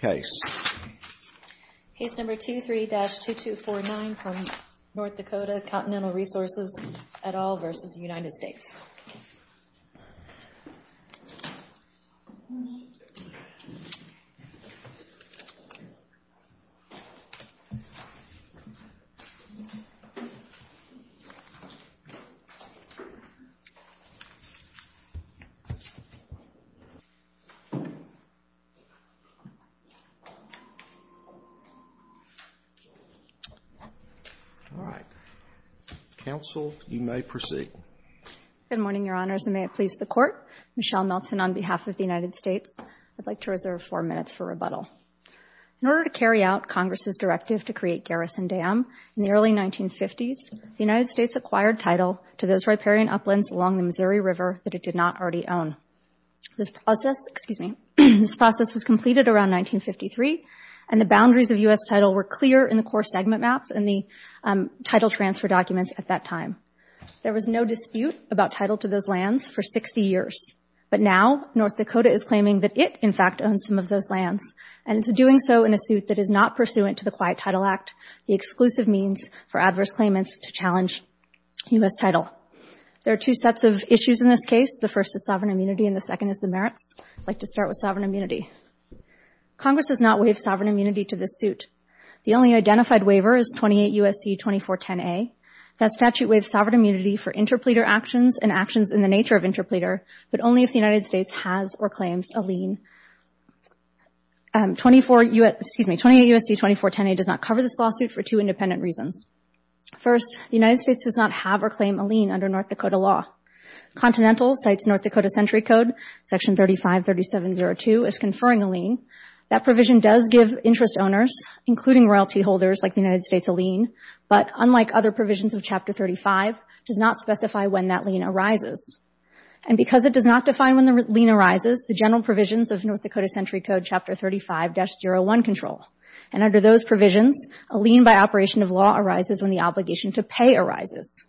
Case number 23-2249 from North Dakota, Continental Resources, et al. v. United States All right. Counsel, you may proceed. Good morning, Your Honors, and may it please the Court. Michelle Melton on behalf of the United States. I'd like to reserve four minutes for rebuttal. In order to carry out Congress's directive to create Garrison Dam in the early 1950s, the United States acquired title to those riparian uplands along the Missouri River that it did not already own. This process, excuse me, this process was completed around 1953, and the boundaries of U.S. title were clear in the core segment maps and the title transfer documents at that time. There was no dispute about title to those lands for 60 years, but now North Dakota is claiming that it, in fact, owns some of those lands, and it's doing so in a suit that is not pursuant to the Quiet Title Act, the exclusive means for adverse claimants to challenge U.S. title. There are two sets of issues in this case. The first is sovereign immunity, and the second is the merits. I'd like to start with sovereign immunity. Congress does not waive sovereign immunity to this suit. The only identified waiver is 28 U.S.C. 2410A. That statute waives sovereign immunity for interpleader actions and actions in the nature of interpleader, but only if the United States has or claims a lien. 24, excuse me, 28 U.S.C. 2410A does not cover this lawsuit for two independent reasons. First, the United States does not have or claim a lien under North Dakota law. Continental cites North Dakota Century Code, Section 353702, as conferring a lien. That provision does give interest owners, including royalty holders like the United States, a lien, but unlike other provisions of Chapter 35, does not specify when that lien arises. And because it does not define when the lien arises, the general provisions of North Dakota Century Code, Chapter 35-01 control, and under those provisions, a lien by operation of law arises when the obligation to pay arises.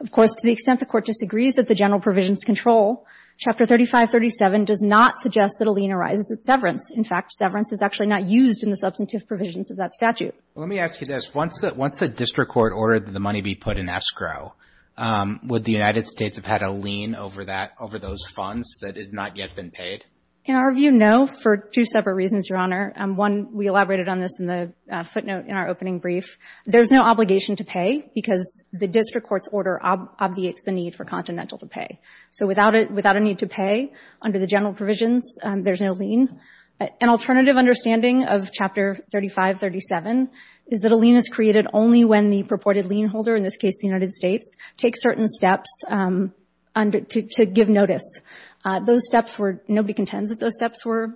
Of course, to the extent the Court disagrees that the general provisions control, Chapter 3537 does not suggest that a lien arises at severance. In fact, severance is actually not used in the substantive provisions of that statute. Roberts. Let me ask you this. Once the district court ordered the money be put in escrow, would the United States have had a lien over that, over those funds that had not yet been paid? Kagan. In our view, no, for two separate reasons, Your Honor. One, we elaborated on this in the footnote in our opening brief. There is no obligation to pay because the district court's order obviates the need for Continental to pay. So without a need to pay, under the general provisions, there is no lien. An alternative understanding of Chapter 3537 is that a lien is created only when the purported lien holder, in this case the United States, takes certain steps to give notice. Those steps were, nobody contends that those steps were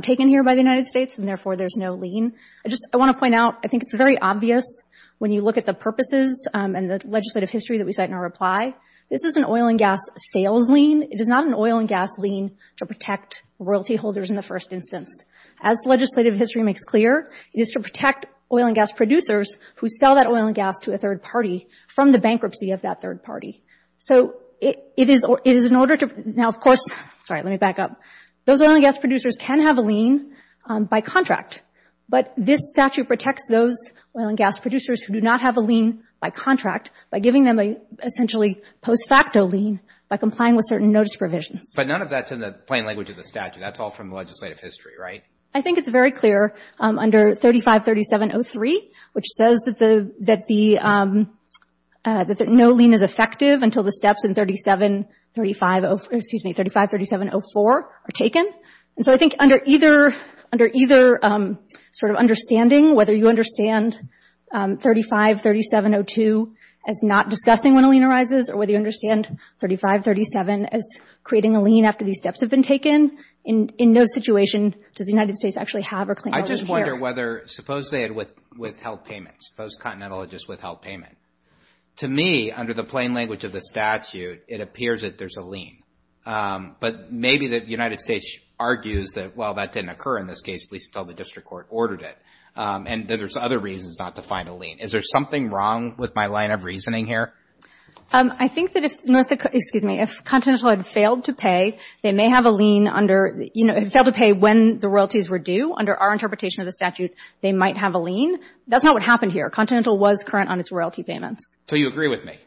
taken here by the United States, and therefore there's no lien. I want to point out, I think it's very obvious when you look at the purposes and the legislative history that we cite in our reply. This is an oil and gas sales lien. It is not an oil and gas lien to protect royalty holders in the first instance. As legislative history makes clear, it is to protect oil and gas producers who sell that oil and gas to a third party from the bankruptcy of that third party. So it is in order to, now of course, sorry, let me back up. Those oil and gas producers can have a lien by contract, but this statute protects those oil and gas producers who do not have a lien by contract by giving them a essentially post facto lien by complying with certain notice provisions. But none of that's in the plain language of the statute. That's all from the legislative history, right? I think it's very clear under 35-3703, which says that no lien is effective until the steps in 35-3704 are taken. So I think under either sort of understanding, whether you understand 35-3702 as not discussing when a lien arises, or whether you understand 35-37 as creating a lien after these steps have been taken, in no situation does the United States actually have a lien here. I just wonder whether, suppose they had withheld payments. Suppose Continental had just withheld payment. To me, under the plain language of the statute, it appears that there's a lien. But maybe the United States argues that, well, that didn't occur in this case, at least until the district court ordered it, and that there's other reasons not to find a lien. Is there something wrong with my line of reasoning here? I think that if, excuse me, if Continental had failed to pay, they may have a lien under — you know, had failed to pay when the royalties were due. Under our interpretation of the statute, they might have a lien. That's not what happened here. Continental was current on its royalty payments. So you agree with me?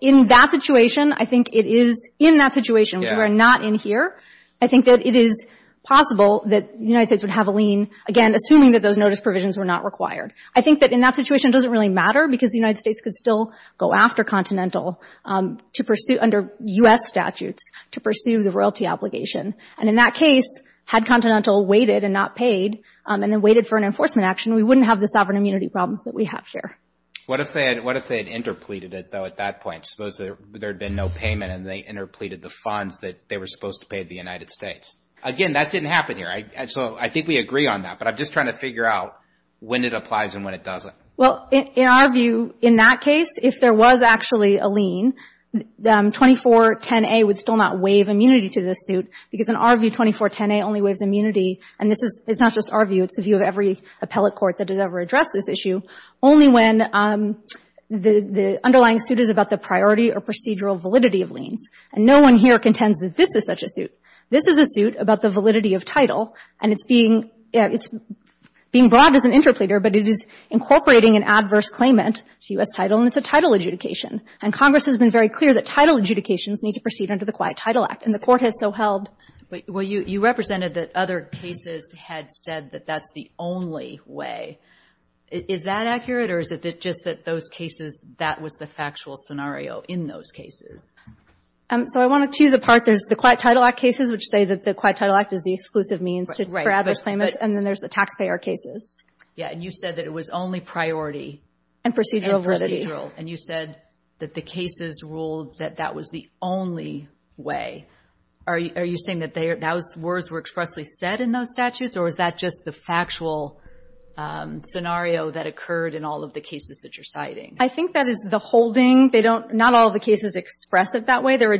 In that situation, I think it is — in that situation, we are not in here. I think that it is possible that the United States would have a lien, again, assuming that those notice provisions were not required. I think that in that situation, it doesn't really matter, because the United States could still go after Continental to pursue, under U.S. statutes, to pursue the royalty obligation. And in that case, had Continental waited and not paid, and then waited for an enforcement action, we wouldn't have the sovereign immunity problems that we have here. What if they had interpleaded it, though, at that point? Suppose there had been no payment and they interpleaded the funds that they were supposed to pay the United States? Again, that didn't happen here. So I think we agree on that. But I'm just trying to figure out when it applies and when it doesn't. Well, in our view, in that case, if there was actually a lien, 2410A would still not waive immunity to this suit, because in our view, 2410A only waives immunity. And this is — it's not just our view. It's the view of every appellate court that has ever addressed this issue, only when the underlying suit is about the priority or procedural validity of liens. And no one here contends that this is such a suit. This is a suit about the validity of title. And it's being — it's being brought up as an interpleader, but it is incorporating an adverse claimant to U.S. title, and it's a title adjudication. And Congress has been very clear that title adjudications need to proceed under the Quiet Title Act, and the Court has so held. But — well, you represented that other cases had said that that's the only way. Is that accurate, or is it just that those cases, that was the factual scenario in those cases? So I want to tease apart. There's the Quiet Title Act cases, which say that the Quiet Title Act is an exclusive means to —— for adverse claimants. But — And then there's the taxpayer cases. Yeah. And you said that it was only priority — And procedural validity. And procedural. And you said that the cases ruled that that was the only way. Are you saying that they are — those words were expressly said in those statutes, or is that just the factual scenario that occurred in all of the cases that you're citing? I think that is the holding. They don't — not all the cases express it that way. They're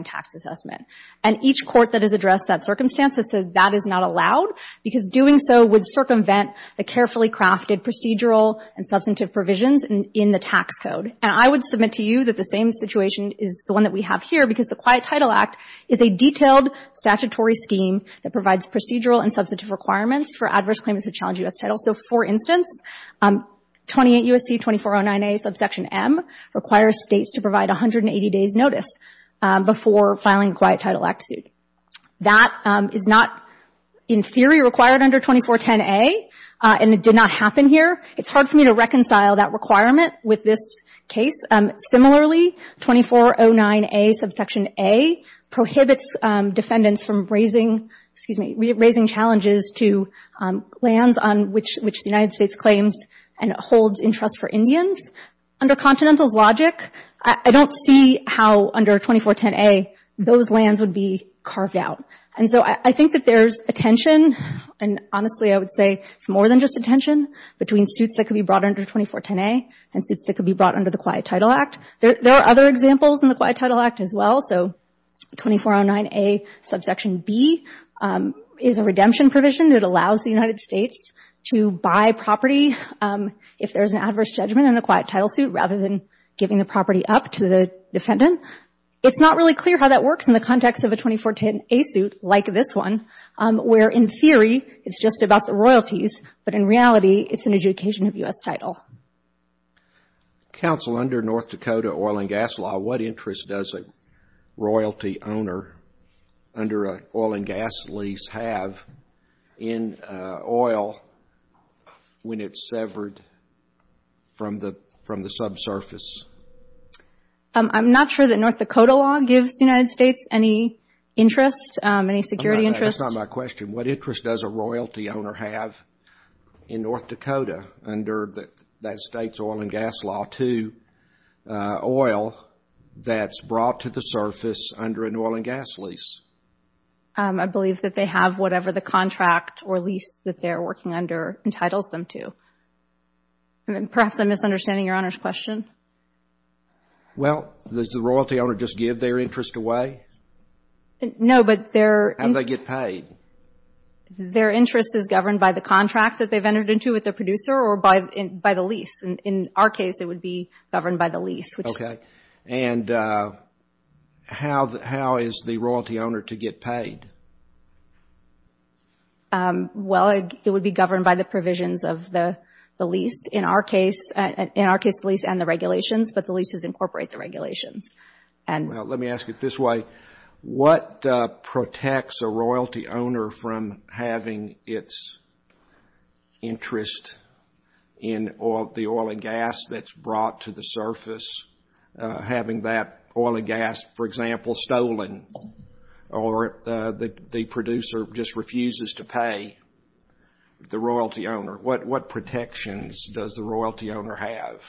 tax assessment. And each court that has addressed that circumstance has said that is not allowed because doing so would circumvent the carefully crafted procedural and substantive provisions in the tax code. And I would submit to you that the same situation is the one that we have here because the Quiet Title Act is a detailed statutory scheme that provides procedural and substantive requirements for adverse claimants who challenge U.S. titles. So, for instance, 28 U.S.C. 2409A subsection M requires states to provide 180 days' notice before filing a Quiet Title Act suit. That is not, in theory, required under 2410A, and it did not happen here. It's hard for me to reconcile that requirement with this case. Similarly, 2409A subsection A prohibits defendants from raising — excuse me — raising challenges to lands on which the United States claims and holds interest for Indians. Under Continental's logic, I don't see how under 2410A those lands would be carved out. And so I think that there's a tension, and honestly I would say it's more than just a tension between suits that could be brought under 2410A and suits that could be brought under the Quiet Title Act. There are other examples in the Quiet Title Act as well. So redemption provision that allows the United States to buy property if there's an adverse judgment in a Quiet Title suit rather than giving the property up to the defendant. It's not really clear how that works in the context of a 2410A suit like this one, where in theory it's just about the royalties, but in reality it's an adjudication of U.S. title. Counsel, under North Dakota oil and gas law, what interest does a royalty owner under an oil and gas lease have in oil when it's severed from the subsurface? I'm not sure that North Dakota law gives the United States any interest, any security interest. That's not my question. What interest does a royalty owner have in North Dakota under that state's oil and gas law to oil that's brought to the surface under an oil and gas lease? I believe that they have whatever the contract or lease that they're working under entitles them to. Perhaps I'm misunderstanding Your Honor's question. Well, does the royalty owner just give their interest away? No, but their — How do they get paid? Their interest is governed by the contract that they've entered into with the producer or by the lease. In our case, it would be governed by the lease, which is — And how is the royalty owner to get paid? Well, it would be governed by the provisions of the lease. In our case, the lease and the regulations, but the leases incorporate the regulations. Let me ask it this way. What protects a royalty owner from having its interest in the oil and gas that's brought to the surface, having that oil and gas, for example, stolen, or the producer just refuses to pay the royalty owner? What protections does the royalty owner have?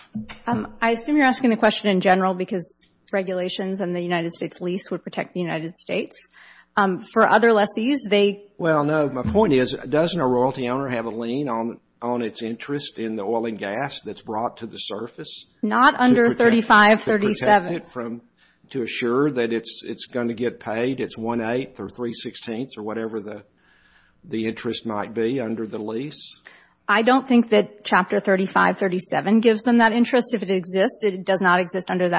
I assume you're asking the question in general because regulations and the United States lease would protect the United States. For other lessees, they — Well, no. My point is, doesn't a royalty owner have a lien on its interest in the oil and gas that's brought to the surface? Not under 3537. To assure that it's going to get paid, it's one-eighth or three-sixteenths or whatever the interest might be under the lease? I don't think that Chapter 3537 gives them that interest. If it exists, it does not exist under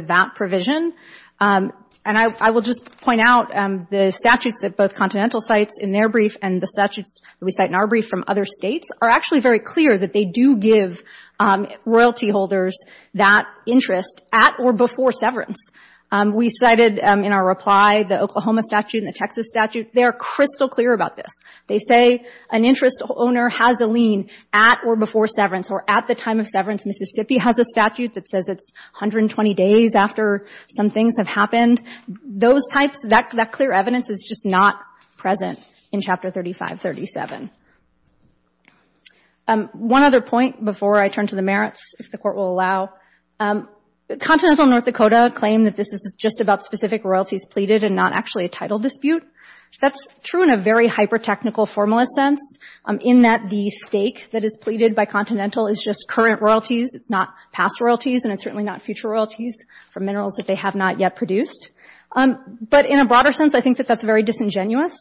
that provision. And I will just point out the statutes that both Continental cites in their brief and the statutes that we cite in our brief from other States are actually very clear that they do give royalty holders that interest at or before severance. We cited in our reply the Oklahoma statute and the Texas statute. They are crystal clear about this. They say an interest owner has a lien at or before severance or at the time of severance. Mississippi has a statute that says it's 120 days after some things have happened. Those types — that clear evidence is just not present in Chapter 3537. One other point before I turn to the merits, if the Court will allow. Continental North Dakota claim that this is just about specific royalties pleaded and not actually a title dispute. That's true in a very hyper-technical, formalist sense in that the stake that is pleaded by Continental is just current royalties. It's not past royalties and it's certainly not future royalties for minerals that they have not yet produced. But in a broader sense, I think that that's very disingenuous.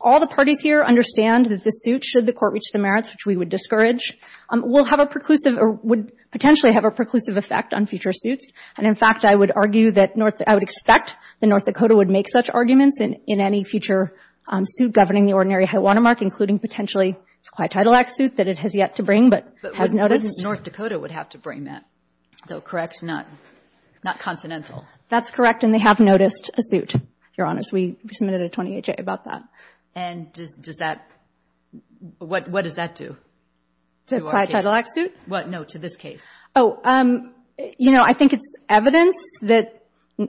All the parties here understand that this suit, should the Court reach the merits, which we would discourage, will have a preclusive — or would potentially have a preclusive effect on future suits. And in fact, I would argue that North — I would expect that North Dakota would make such arguments in any future suit governing the Ordinary High Watermark, including potentially it's a Quiet Title Act suit that it has yet to bring, but has noticed. But wouldn't North Dakota would have to bring that, though, correct? Not — not Continental? That's correct, and they have noticed a suit, Your Honor. So we submitted a 20-H.A. about that. And does — does that — what — what does that do to our case? The Quiet Title Act suit? What — no, to this case. Oh, you know, I think it's evidence that —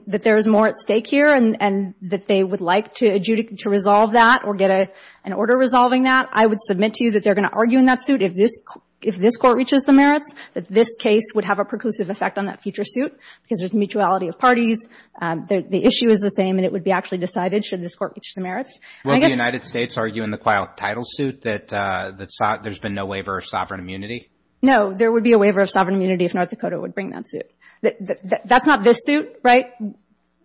that there is more at stake here and — and that they would like to adjudicate — to resolve that or get an order resolving that. I would submit to you that they're going to argue in that suit if this — if this Court reaches the merits, that this case would have a preclusive effect on that future suit because there's mutuality of parties. The issue is the same, and it would be actually decided should this Court reach the merits. Will the United States argue in the Quiet Title suit that — that there's been no waiver of sovereign immunity? No, there would be a waiver of sovereign immunity if North Dakota would bring that suit. That's not this suit, right?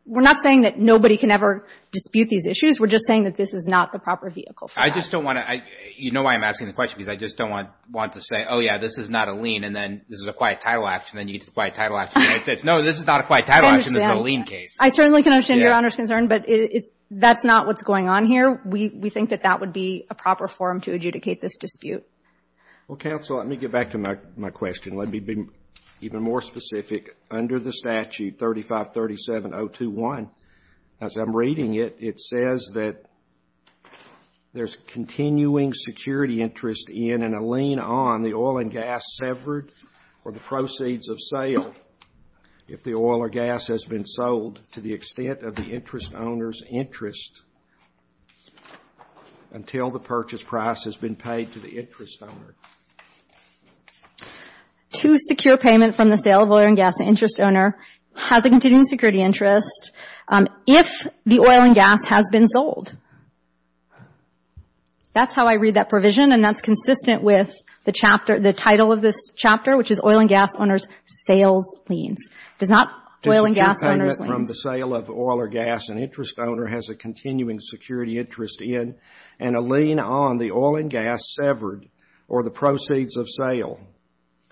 We're not saying that nobody can ever dispute these issues. We're just saying that this is not the proper vehicle for that. I just don't want to — you know why I'm asking the question, because I just don't want — want to say, oh, yeah, this is not a lien, and then this is a Quiet Title Act, and then you get to No, this is not a Quiet Title Act, and this is a lien case. I certainly can understand Your Honor's concern, but it's — that's not what's going on here. We — we think that that would be a proper forum to adjudicate this dispute. Well, counsel, let me get back to my — my question. Let me be even more specific. Under the statute 3537.021, as I'm reading it, it says that there's continuing security interest in and a lien on the oil and gas severed or the proceeds of sale if the oil or gas has been sold to the extent of the interest owner's interest until the purchase price has been paid to the interest owner. To secure payment from the sale of oil and gas, the interest owner has a continuing security interest if the oil and gas has been sold. That's how I read that provision, and that's consistent with the chapter — the title of this chapter, which is oil and gas owners' sales liens. It does not — oil and gas owners' liens. To secure payment from the sale of oil or gas, an interest owner has a continuing security interest in and a lien on the oil and gas severed or the proceeds of sale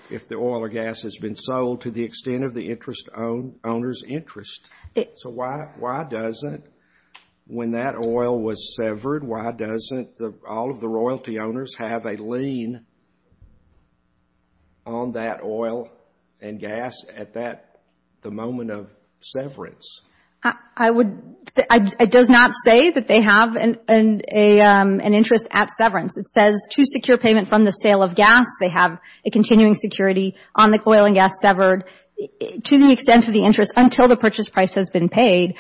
if the oil or gas has been sold to the extent of the interest owner's interest. So why doesn't — when that oil was severed, why doesn't all of the royalty owners have a lien on that oil and gas at that — the moment of severance? I would — it does not say that they have an interest at severance. It says to secure payment from the sale of gas, they have a continuing security on the oil and gas severed to the extent of the interest until the purchase price has been paid.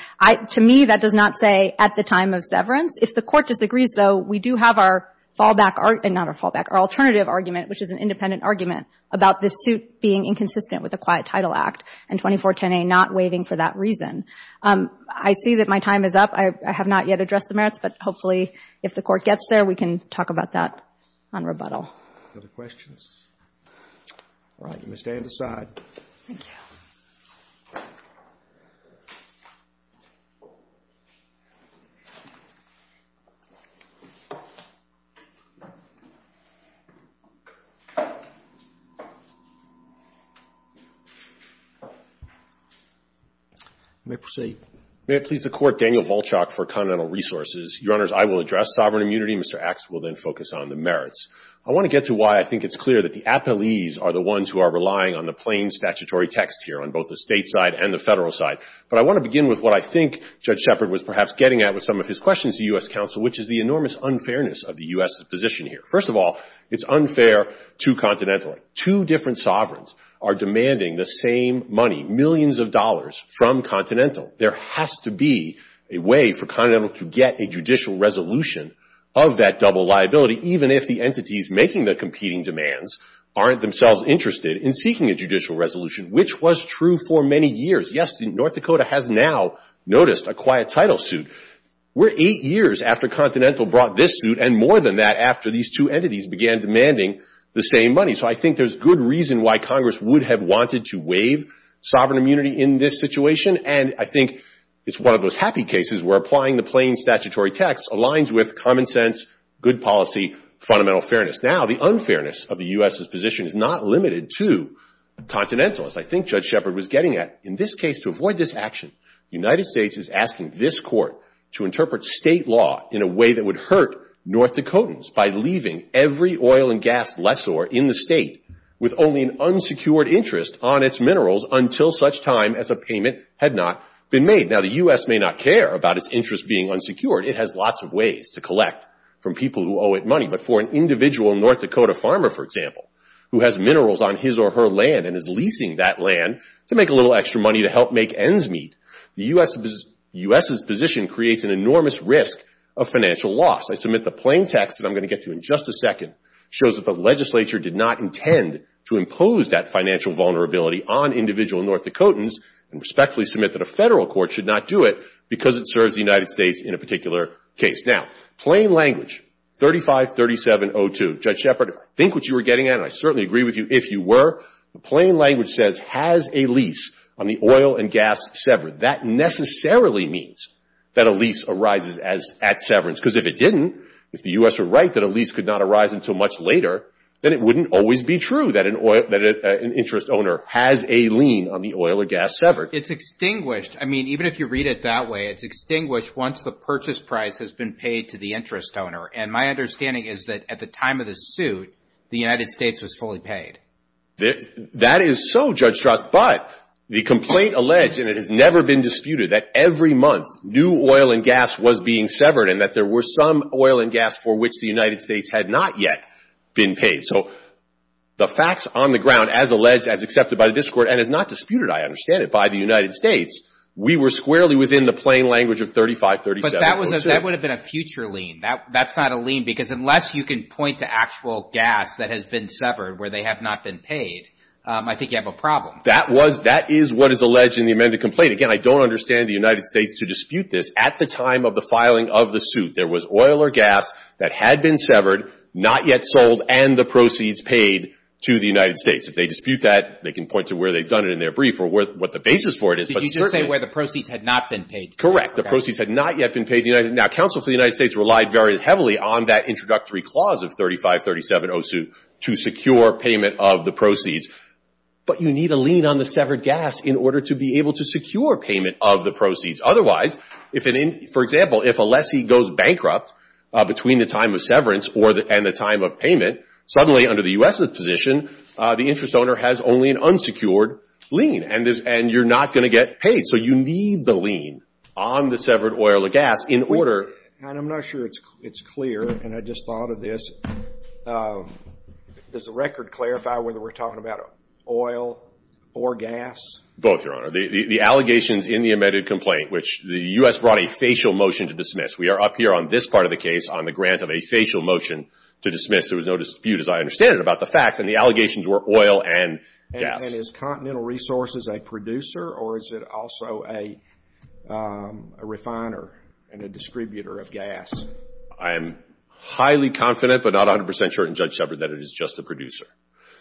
To me, that does not say at the time of severance. If the Court disagrees, though, we do have our fallback — not our fallback, our alternative argument, which is an independent argument about this suit being inconsistent with the Quiet Title Act and 2410A not waiving for that reason. I see that my time is up. I have not yet addressed the merits, but hopefully, if the Court gets there, we can talk about that on rebuttal. Other questions? All right. You may stand aside. Thank you. You may proceed. May it please the Court, Daniel Volchak for Continental Resources. Your Honors, I will address sovereign immunity. Mr. Axe will then focus on the merits. I want to get to why I think it's clear that the appellees are the ones who are relying on the plain statutory text here on both the State side and the Federal side. But I want to begin with what I think Judge Shepard was perhaps getting at with some of his questions to U.S. counsel, which is the enormous unfairness of the U.S.'s position here. First of all, it's unfair to Continental. Two different sovereigns are demanding the same money — millions of dollars — from Continental. There has to be a way for Continental to get a judicial resolution of that double liability, even if the entities making the competing demands aren't themselves interested in seeking a judicial resolution, which was true for many years. Yes, North Dakota has now noticed a quiet title suit. We're eight years after Continental brought this suit, and more than that, after these two entities began demanding the same money. So I think there's good reason why Congress would have wanted to waive sovereign immunity in this situation. And I think it's one of those happy cases where applying the plain statutory text aligns with common sense, good policy, fundamental fairness. Now, the unfairness of the U.S.'s position is not limited to Continental, as I think Judge Shepard was getting at. In this case, to avoid this action, the United States is asking this court to interpret state law in a way that would hurt North Dakotans by leaving every oil and gas lessor in the state with only an unsecured interest on its minerals until such time as a payment had not been made. Now, the U.S. may not care about its interest being unsecured. It has lots of ways to collect from people who owe it money. But for an individual North Dakota farmer, for example, who has minerals on his or her land and is leasing that land to make a little extra money to help make ends meet, the U.S.'s position creates an enormous risk of financial loss. I submit the plain text that I'm going to get to in just a second shows that the legislature did not intend to impose that financial vulnerability on individual North Dakotans and respectfully submit that a federal court should not do it because it serves the United States in a particular case. Now, plain language, 353702, Judge Shepard, I think what you were getting at, and I certainly agree with you if you were, the plain language says, has a lease on the oil and gas severed. That necessarily means that a lease arises at severance. Because if it didn't, if the U.S. were right that a lease could not arise until much later, then it wouldn't always be true that an interest owner has a lien on the oil or gas severed. It's extinguished. I mean, even if you read it that way, it's extinguished once the purchase price has been paid to the interest owner. And my understanding is that at the time of the suit, the United States was fully paid. That is so, Judge Strass. But the complaint alleged, and it has never been disputed, that every month new oil and gas was being severed and that there were some oil and gas for which the United States had not yet been paid. So the facts on the ground, as alleged, as accepted by the district court, and as not disputed, I understand it, by the United States, we were squarely within the plain language of 3537.02. But that would have been a future lien. That's not a lien. Because unless you can point to actual gas that has been severed where they have not been paid, I think you have a problem. That is what is alleged in the amended complaint. Again, I don't understand the United States to dispute this. At the time of the filing of the suit, there was oil or gas that had been severed, not yet sold, and the proceeds paid to the United States. If they dispute that, they can point to where they have done it in their brief or what the basis for it is. Did you just say where the proceeds had not been paid? Correct. The proceeds had not yet been paid to the United States. Now, counsel for the United States relied very heavily on that introductory clause of 3537.02 to secure payment of the proceeds. But you need a lien on the severed gas in order to be able to secure payment of the proceeds. Otherwise, for example, if a lessee goes bankrupt between the time of severance and the time of payment, suddenly under the U.S.'s position, the interest owner has only an unsecured lien, and you're not going to get paid. So you need the lien on the severed oil or gas in order And I'm not sure it's clear, and I just thought of this. Does the record clarify whether we're talking about oil or gas? Both, Your Honor. The allegations in the amended complaint, which the U.S. brought a facial motion to dismiss. We are up here on this part of the case on the grant of a facial motion to dismiss. There was no dispute, as I understand it, about the facts, and the allegations were oil and gas. And is Continental Resources a producer, or is it also a refiner and a distributor of gas? I am highly confident, but not 100 percent sure in Judge Shepard, that it is just a producer.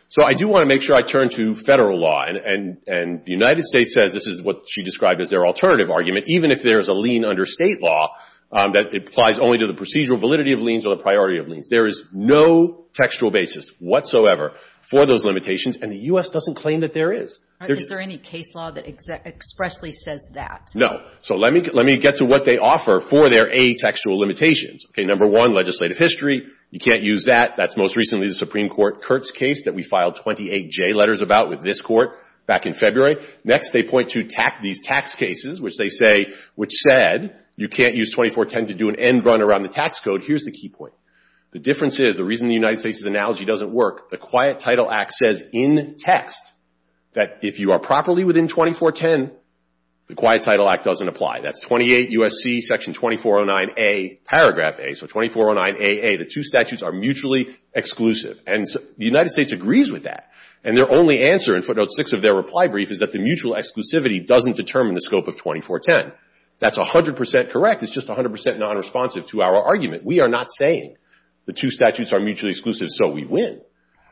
So I do want to make sure I turn to Federal law. And the United States says this is what she described as their alternative argument, even if there is a lien under State law that applies only to the procedural validity of liens or the priority of liens. There is no textual basis whatsoever for those limitations, and the U.S. doesn't claim that there is. Is there any case law that expressly says that? No. So let me get to what they offer for their A, textual limitations. Okay, number one, legislative history. You can't use that. That's most recently the Supreme Court Kurtz case that we filed 28 J letters about with this Court back in February. Next, they point to these tax cases, which they say, which said you can't use 2410 to do an end run around the tax code. Here is the key point. The difference is the reason the United States' analogy doesn't work, the Quiet Title Act says in text that if you are properly within 2410, the Quiet Title Act doesn't apply. That's 28 U.S.C. §2409A, paragraph A. So 2409AA, the two statutes are mutually exclusive. And the United States agrees with that. And their only answer in 2410. That's 100% correct. It's just 100% nonresponsive to our argument. We are not saying the two statutes are mutually exclusive, so we win.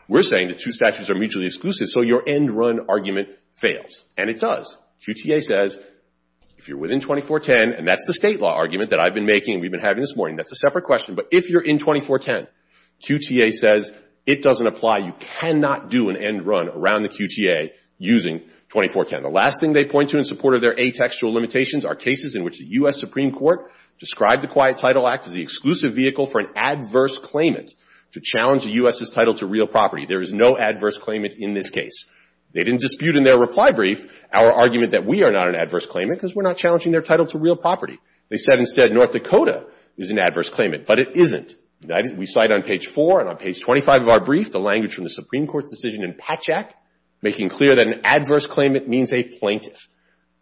We're saying the two statutes are mutually exclusive, so your end run argument fails. And it does. QTA says if you're within 2410, and that's the state law argument that I've been making and we've been having this morning. That's a separate question. But if you're in 2410, QTA says it doesn't apply. You cannot do an end run around the QTA using 2410. And the last thing they point to in support of their A textual limitations are cases in which the U.S. Supreme Court described the Quiet Title Act as the exclusive vehicle for an adverse claimant to challenge the U.S.'s title to real property. There is no adverse claimant in this case. They didn't dispute in their reply brief our argument that we are not an adverse claimant because we're not challenging their title to real property. They said instead North Dakota is an adverse claimant. But it isn't. We cite on page 4 and on page 25 of our brief the language from the Supreme Court's decision in Patchak making clear that an adverse claimant means a plaintiff.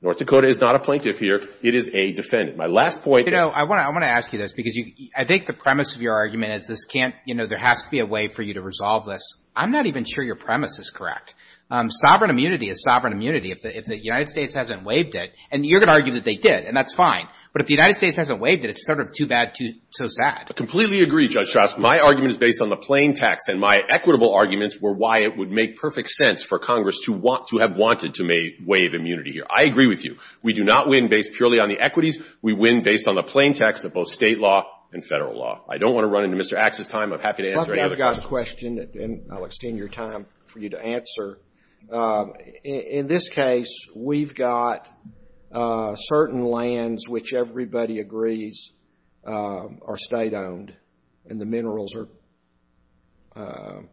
North Dakota is not a plaintiff here. It is a defendant. My last point — You know, I want to ask you this, because I think the premise of your argument is this can't — you know, there has to be a way for you to resolve this. I'm not even sure your premise is correct. Sovereign immunity is sovereign immunity. If the United States hasn't waived it — and you're going to argue that they did, and that's fine. But if the United States hasn't waived it, it's sort of too bad, too — so sad. I completely agree, Judge Strauss. My argument is based on the plain text. And my equitable arguments were why it would make perfect sense for Congress to want — to have wanted to waive immunity here. I agree with you. We do not win based purely on the equities. We win based on the plain text of both state law and federal law. I don't want to run into Mr. Axe's time. I'm happy to answer any other questions. Let me ask a question, and I'll extend your time for you to answer. In this case, we've got certain lands which everybody agrees are state-owned, and the minerals are —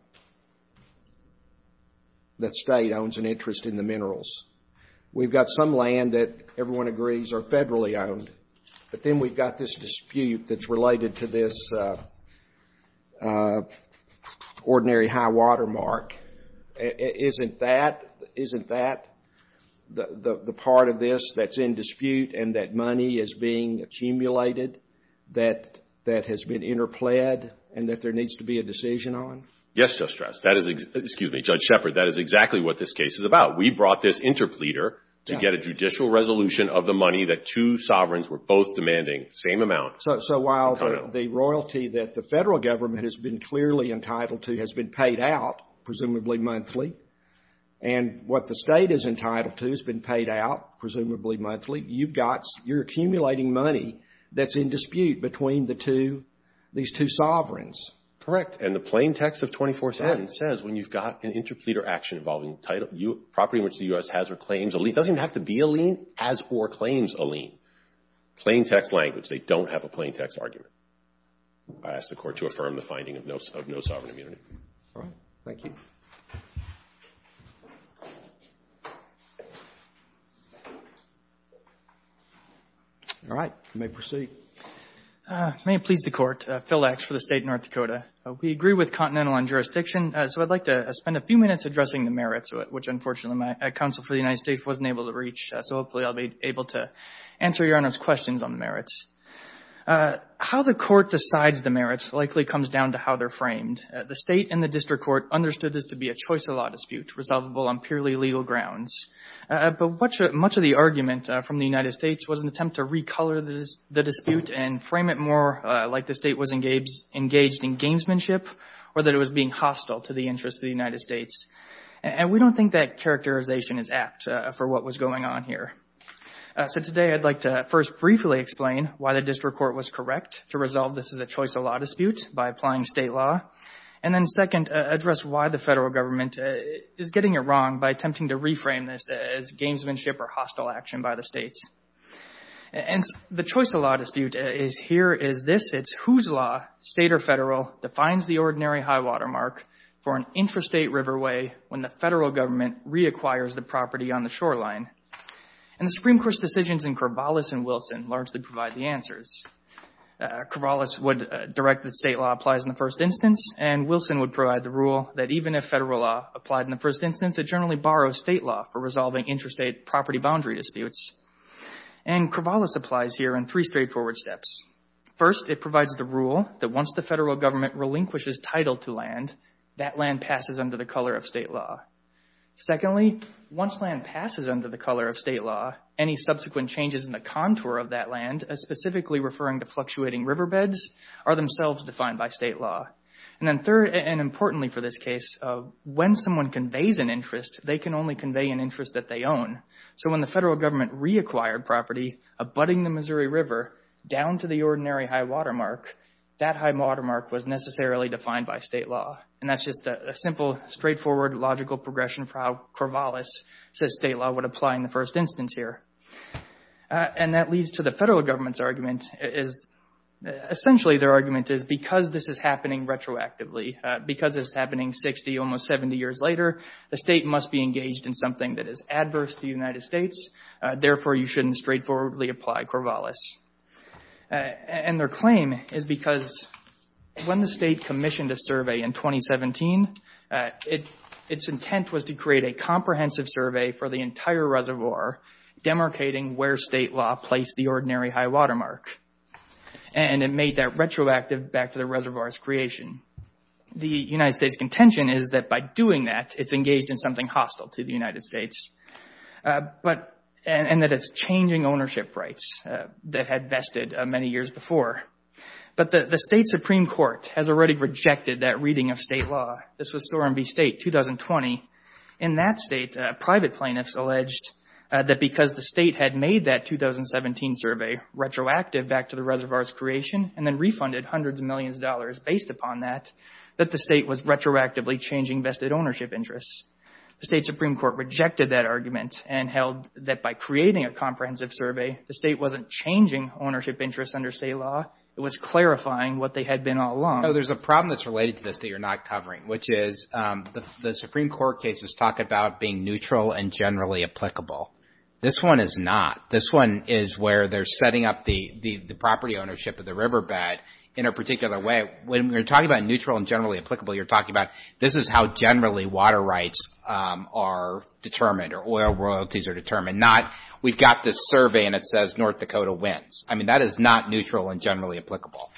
that state owns an interest in the minerals. We've got some land that everyone agrees are federally owned. But then we've got this dispute that's related to this ordinary high-water mark. Isn't that — isn't that the part of this that's in dispute and that money is being accumulated that has been interpled and that there needs to be a decision on? Yes, Judge Strauss. That is — excuse me, Judge Shepard, that is exactly what this case is about. We brought this interpleader to get a judicial resolution of the money that two sovereigns were both demanding, same amount. So while the royalty that the federal government has been clearly entitled to has been paid out, presumably monthly, and what the state is entitled to has been paid out, presumably monthly, you've got — you're accumulating money that's in dispute between the two — these two sovereigns. Correct. And the plain text of 247 says when you've got an interpleader action involving title — property in which the U.S. has or claims a lien — it doesn't even have to be a lien, as for claims a lien. Plain text language. They don't have a plain text argument. I ask the Court to affirm the finding of no sovereign immunity. All right. Thank you. All right. You may proceed. May it please the Court, Phil Lax for the State of North Dakota. We agree with Continental on jurisdiction, so I'd like to spend a few minutes addressing the merits, which unfortunately my counsel for the United States wasn't able to reach, so hopefully I'll be able to answer Your Honor's questions on the merits. How the Court decides the merits likely comes down to how they're framed. The State and the District Court understood this to be a choice of law dispute, resolvable on purely legal grounds. But much of the argument from the United States was an attempt to recolor the dispute and frame it more like the State was engaged in gamesmanship, or that it was being hostile to the interests of the United States. And we don't think that characterization is apt for what was going on here. So today I'd like to first briefly explain why the District Court was correct to resolve this as a choice of law dispute by applying State law. And then second, address why the Federal Government is getting it wrong by attempting to reframe this as gamesmanship or hostile action by the States. And the choice of law dispute is here is this. It's whose law, State or Federal, defines the ordinary high-water mark for an intrastate riverway when the Federal Government reacquires the property on the shoreline. And the Supreme Court's decisions in Corvallis and Wilson largely provide the answers. Corvallis would direct that State law applies in the first instance, and Wilson would provide the rule that even if Federal law applied in the first instance, it generally borrows State law for resolving intrastate property boundary disputes. And Corvallis applies here in three straightforward steps. First, it provides the rule that once the Federal Government relinquishes title to land, that land passes under the color of State law. Secondly, once land passes under the color of State law, any subsequent changes in the contour of that land, specifically referring to fluctuating riverbeds, are themselves defined by State law. And then third, and importantly for this case, when someone conveys an interest, they can only convey an interest that they own. So when the Federal Government reacquired property abutting the Missouri River down to the ordinary high-water mark, that high-water mark was necessarily defined by State law. And that's just a simple, straightforward, logical progression for how Corvallis says State law would apply in the first instance here. And that leads to the Federal Government's argument is, essentially their argument is, because this is happening retroactively, because this is happening 60, almost 70 years later, the State must be engaged in something that is adverse to the United States, therefore you shouldn't straightforwardly apply Corvallis. And their claim is because when the State commissioned a survey in 2017, its intent was to create a comprehensive survey for the entire reservoir, demarcating where State law placed the ordinary high-water mark. And it made that retroactive back to the reservoir's creation. The United States' contention is that by doing that, it's engaged in something hostile to the United States. And that it's changing ownership rights that had vested many years before. But the State Supreme Court has already rejected that reading of State law. This was Soremby State, 2020. In that State, private plaintiffs alleged that because the State had made that 2017 survey retroactive back to the reservoir's creation, and then refunded hundreds of millions of dollars based upon that, that the State was retroactively changing vested ownership interests. The State was not creating a comprehensive survey. The State wasn't changing ownership interests under State law. It was clarifying what they had been all along. No, there's a problem that's related to this that you're not covering, which is the Supreme Court cases talk about being neutral and generally applicable. This one is not. This one is where they're setting up the property ownership of the riverbed in a particular way. When you're talking about neutral and generally applicable, you're talking about this is how generally water rights are determined or oil royalties are determined, not we've got this survey and it says North Dakota wins. I mean, that is not neutral and generally applicable.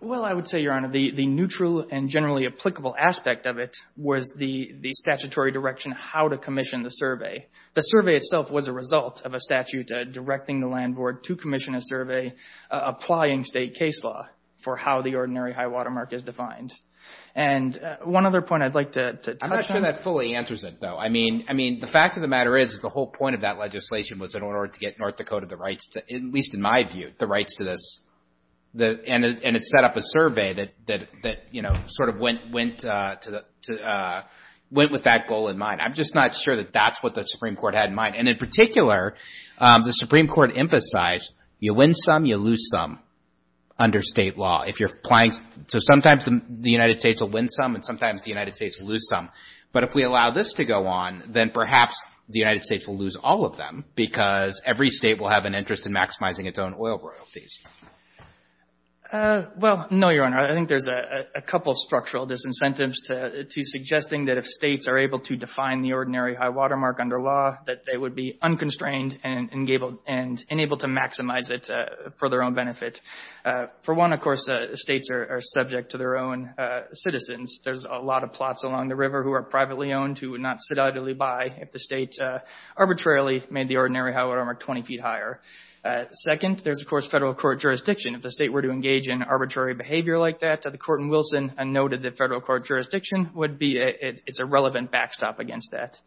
Well, I would say, Your Honor, the neutral and generally applicable aspect of it was the statutory direction how to commission the survey. The survey itself was a result of a statute directing the Land Board to commission a survey applying State case law for how the And one other point I'd like to touch on. I'm not sure that fully answers it, though. I mean, the fact of the matter is the whole point of that legislation was in order to get North Dakota the rights to, at least in my view, the rights to this. And it set up a survey that sort of went with that goal in mind. I'm just not sure that that's what the Supreme Court had in mind. And in particular, the Supreme Court emphasized you win some, you lose some under State law. If you're applying, so sometimes the United States will win some and sometimes the United States will lose some. But if we allow this to go on, then perhaps the United States will lose all of them because every state will have an interest in maximizing its own oil royalties. Well, no, Your Honor. I think there's a couple of structural disincentives to suggesting that if states are able to define the ordinary high-water mark under law, that they would be unconstrained and able to maximize it for their own benefit. For one, of course, states are subject to their own citizens. There's a lot of plots along the river who are privately owned, who would not sit idly by if the state arbitrarily made the ordinary high-water mark 20 feet higher. Second, there's, of course, federal court jurisdiction. If the state were to engage in arbitrary behavior like that, the court in Wilson noted that federal court jurisdiction would be a relevant backstop against that.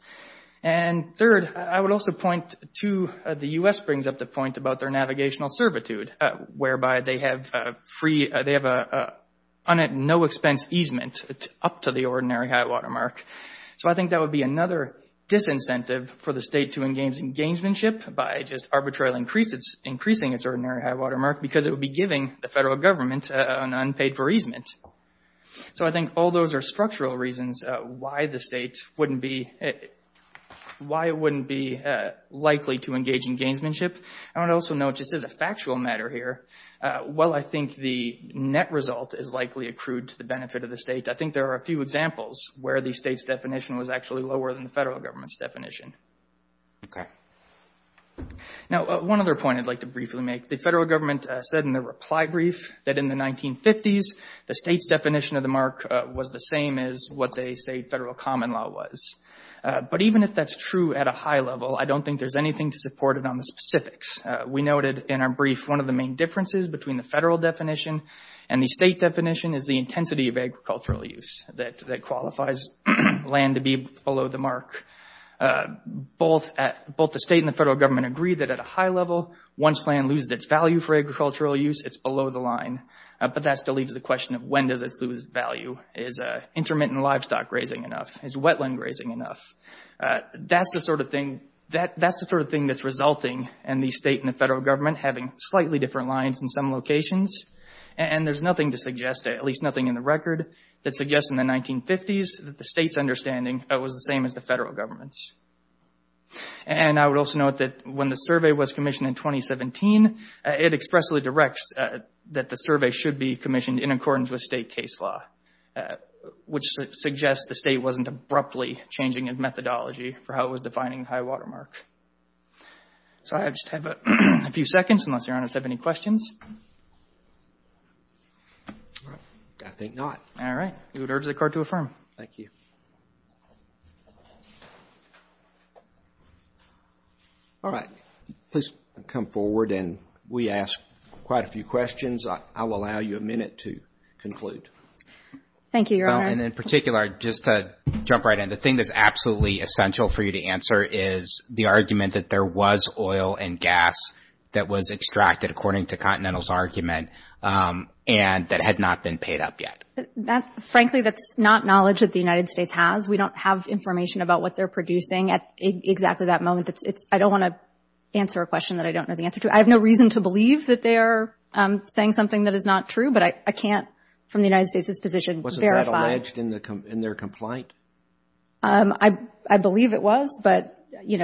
And third, I would also point to the U.S. brings up the point about their navigational servitude, whereby they have free, they have a no-expense easement up to the ordinary high-water mark. So I think that would be another disincentive for the state to engage in gamesmanship by just arbitrarily increasing its ordinary high-water mark because it would be giving the federal government an unpaid-for easement. So I think all those are structural reasons why the state wouldn't be, why it wouldn't be likely to engage in gamesmanship. I would also note, just as a factual matter here, while I think the net result is likely accrued to the benefit of the state, I think there are a few examples where the state's definition was actually lower than the federal government's Now, one other point I'd like to briefly make. The federal government said in the reply brief that in the 1950s, the state's definition of the mark was the same as what they say the federal common law was. But even if that's true at a high level, I don't think there's anything to support it on the specifics. We noted in our brief one of the main differences between the federal definition and the state definition is the intensity of agricultural use that qualifies land to be below the mark. Both the state and the federal government agree that at a high level, once land loses its value for agricultural use, it's below the line. But that still leaves the question of when does it lose its value? Is intermittent livestock grazing enough? Is wetland grazing enough? That's the sort of thing that's resulting in the state and the federal government having slightly different lines in some locations. And there's nothing to suggest, at least nothing in the record, that suggests in the 1950s that the state's understanding was the same as the federal government's. And I would also note that when the survey was commissioned in 2017, it expressly directs that the survey should be commissioned in accordance with state case law, which suggests the state wasn't abruptly changing its methodology for how it was defining the high water mark. So I just have a few seconds, unless Your Honor has any questions. I think not. All right. We would urge the Court to affirm. Thank you. All right. Please come forward. And we asked quite a few questions. I will allow you a minute to conclude. Thank you, Your Honor. Well, and in particular, just to jump right in, the thing that's absolutely essential for you to answer is the argument that there was oil and gas that was extracted according to Continental's argument and that had not been paid up yet. Frankly, that's not knowledge that the United States has. We don't have information about what they're producing at exactly that moment. I don't want to answer a question that I don't know the answer to. I have no reason to believe that they are saying something that is not true, but I can't, from the United States' position, verify. Wasn't that alleged in their complaint? I believe it was, but I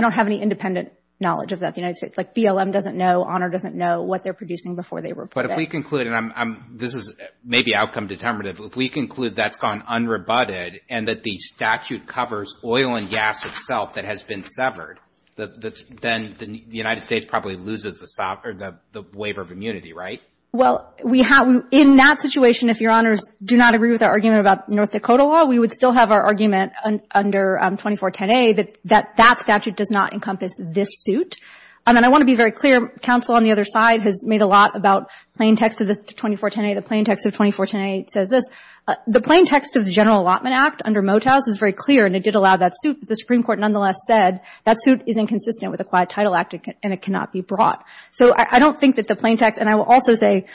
don't have any independent knowledge of that. The United States, like BLM doesn't know, Honor doesn't know what they're producing before they report it. But if we conclude, and this is maybe outcome determinative, if we conclude that's gone unrebutted and that the statute covers oil and gas itself that has been severed, then the United States probably loses the waiver of immunity, right? Well, in that situation, if Your Honors do not agree with our argument about North Dakota law, we would still have our argument under 2410A that that statute does not encompass this suit. I mean, I want to be very clear. Counsel on the other side has made a lot about plain text of this 2410A. The plain text of 2410A says this. The plain text of the General Allotment Act under Motau's is very clear and it did allow that suit, but the Supreme Court nonetheless said that suit is inconsistent with Acquired Title Act and it cannot be brought. So I don't think that the plain text, and I will also say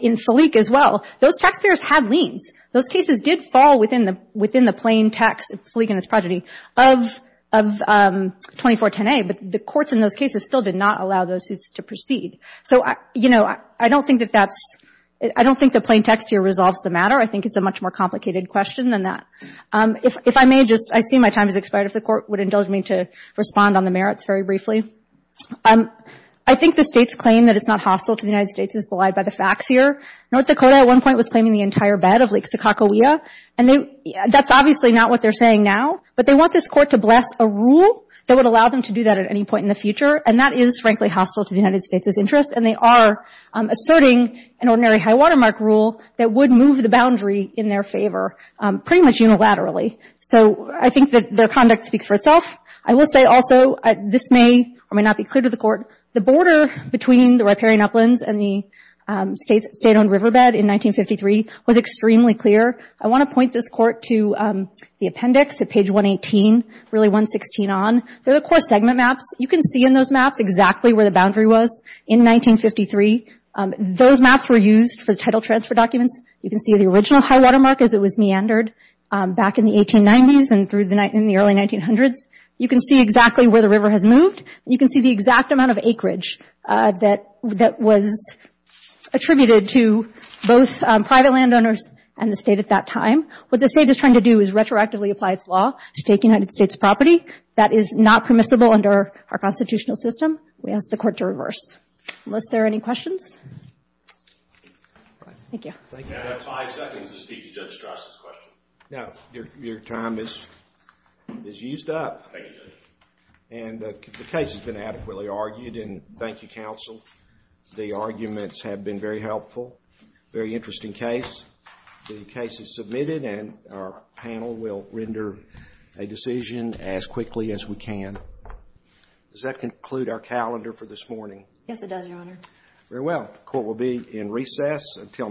in Falique as well, those taxpayers had liens. Those cases did fall within the plain text, Falique and its progeny, of 2410A, but the courts in those cases still did not allow those suits to proceed. So, you know, I don't think that that's – I don't think the plain text here resolves the matter. I think it's a much more complicated question than that. If I may just – I see my time has expired. If the Court would indulge me to respond on the merits very briefly. I think the States claim that it's not hostile to the United States is belied by the facts here. North Dakota at one point was claiming the entire of Lake Sakakawea, and that's obviously not what they're saying now, but they want this Court to bless a rule that would allow them to do that at any point in the future, and that is frankly hostile to the United States' interest, and they are asserting an ordinary high-water mark rule that would move the boundary in their favor pretty much unilaterally. So I think that their conduct speaks for itself. I will say also, this may or may not be clear to the Court, the border between the riparian riverbed in 1953 was extremely clear. I want to point this Court to the appendix at page 118, really 116 on. They're the core segment maps. You can see in those maps exactly where the boundary was in 1953. Those maps were used for the title transfer documents. You can see the original high-water mark as it was meandered back in the 1890s and through the – in the early 1900s. You can see exactly where the river has moved. You can see the exact amount of acreage that was attributed to both private landowners and the State at that time. What the State is trying to do is retroactively apply its law to take United States property. That is not permissible under our constitutional system. We ask the Court to reverse. Unless there are any questions? Thank you. I have five seconds to speak to Judge Strauss' question. Now, your time is used up. Thank you, Judge. And the case has been adequately argued, and thank you, counsel. The arguments have been very helpful, very interesting case. The case is submitted, and our panel will render a decision as quickly as we can. Does that conclude our calendar for this morning? Yes, it does, Your Honor. Very well. The Court will be in recess until next time.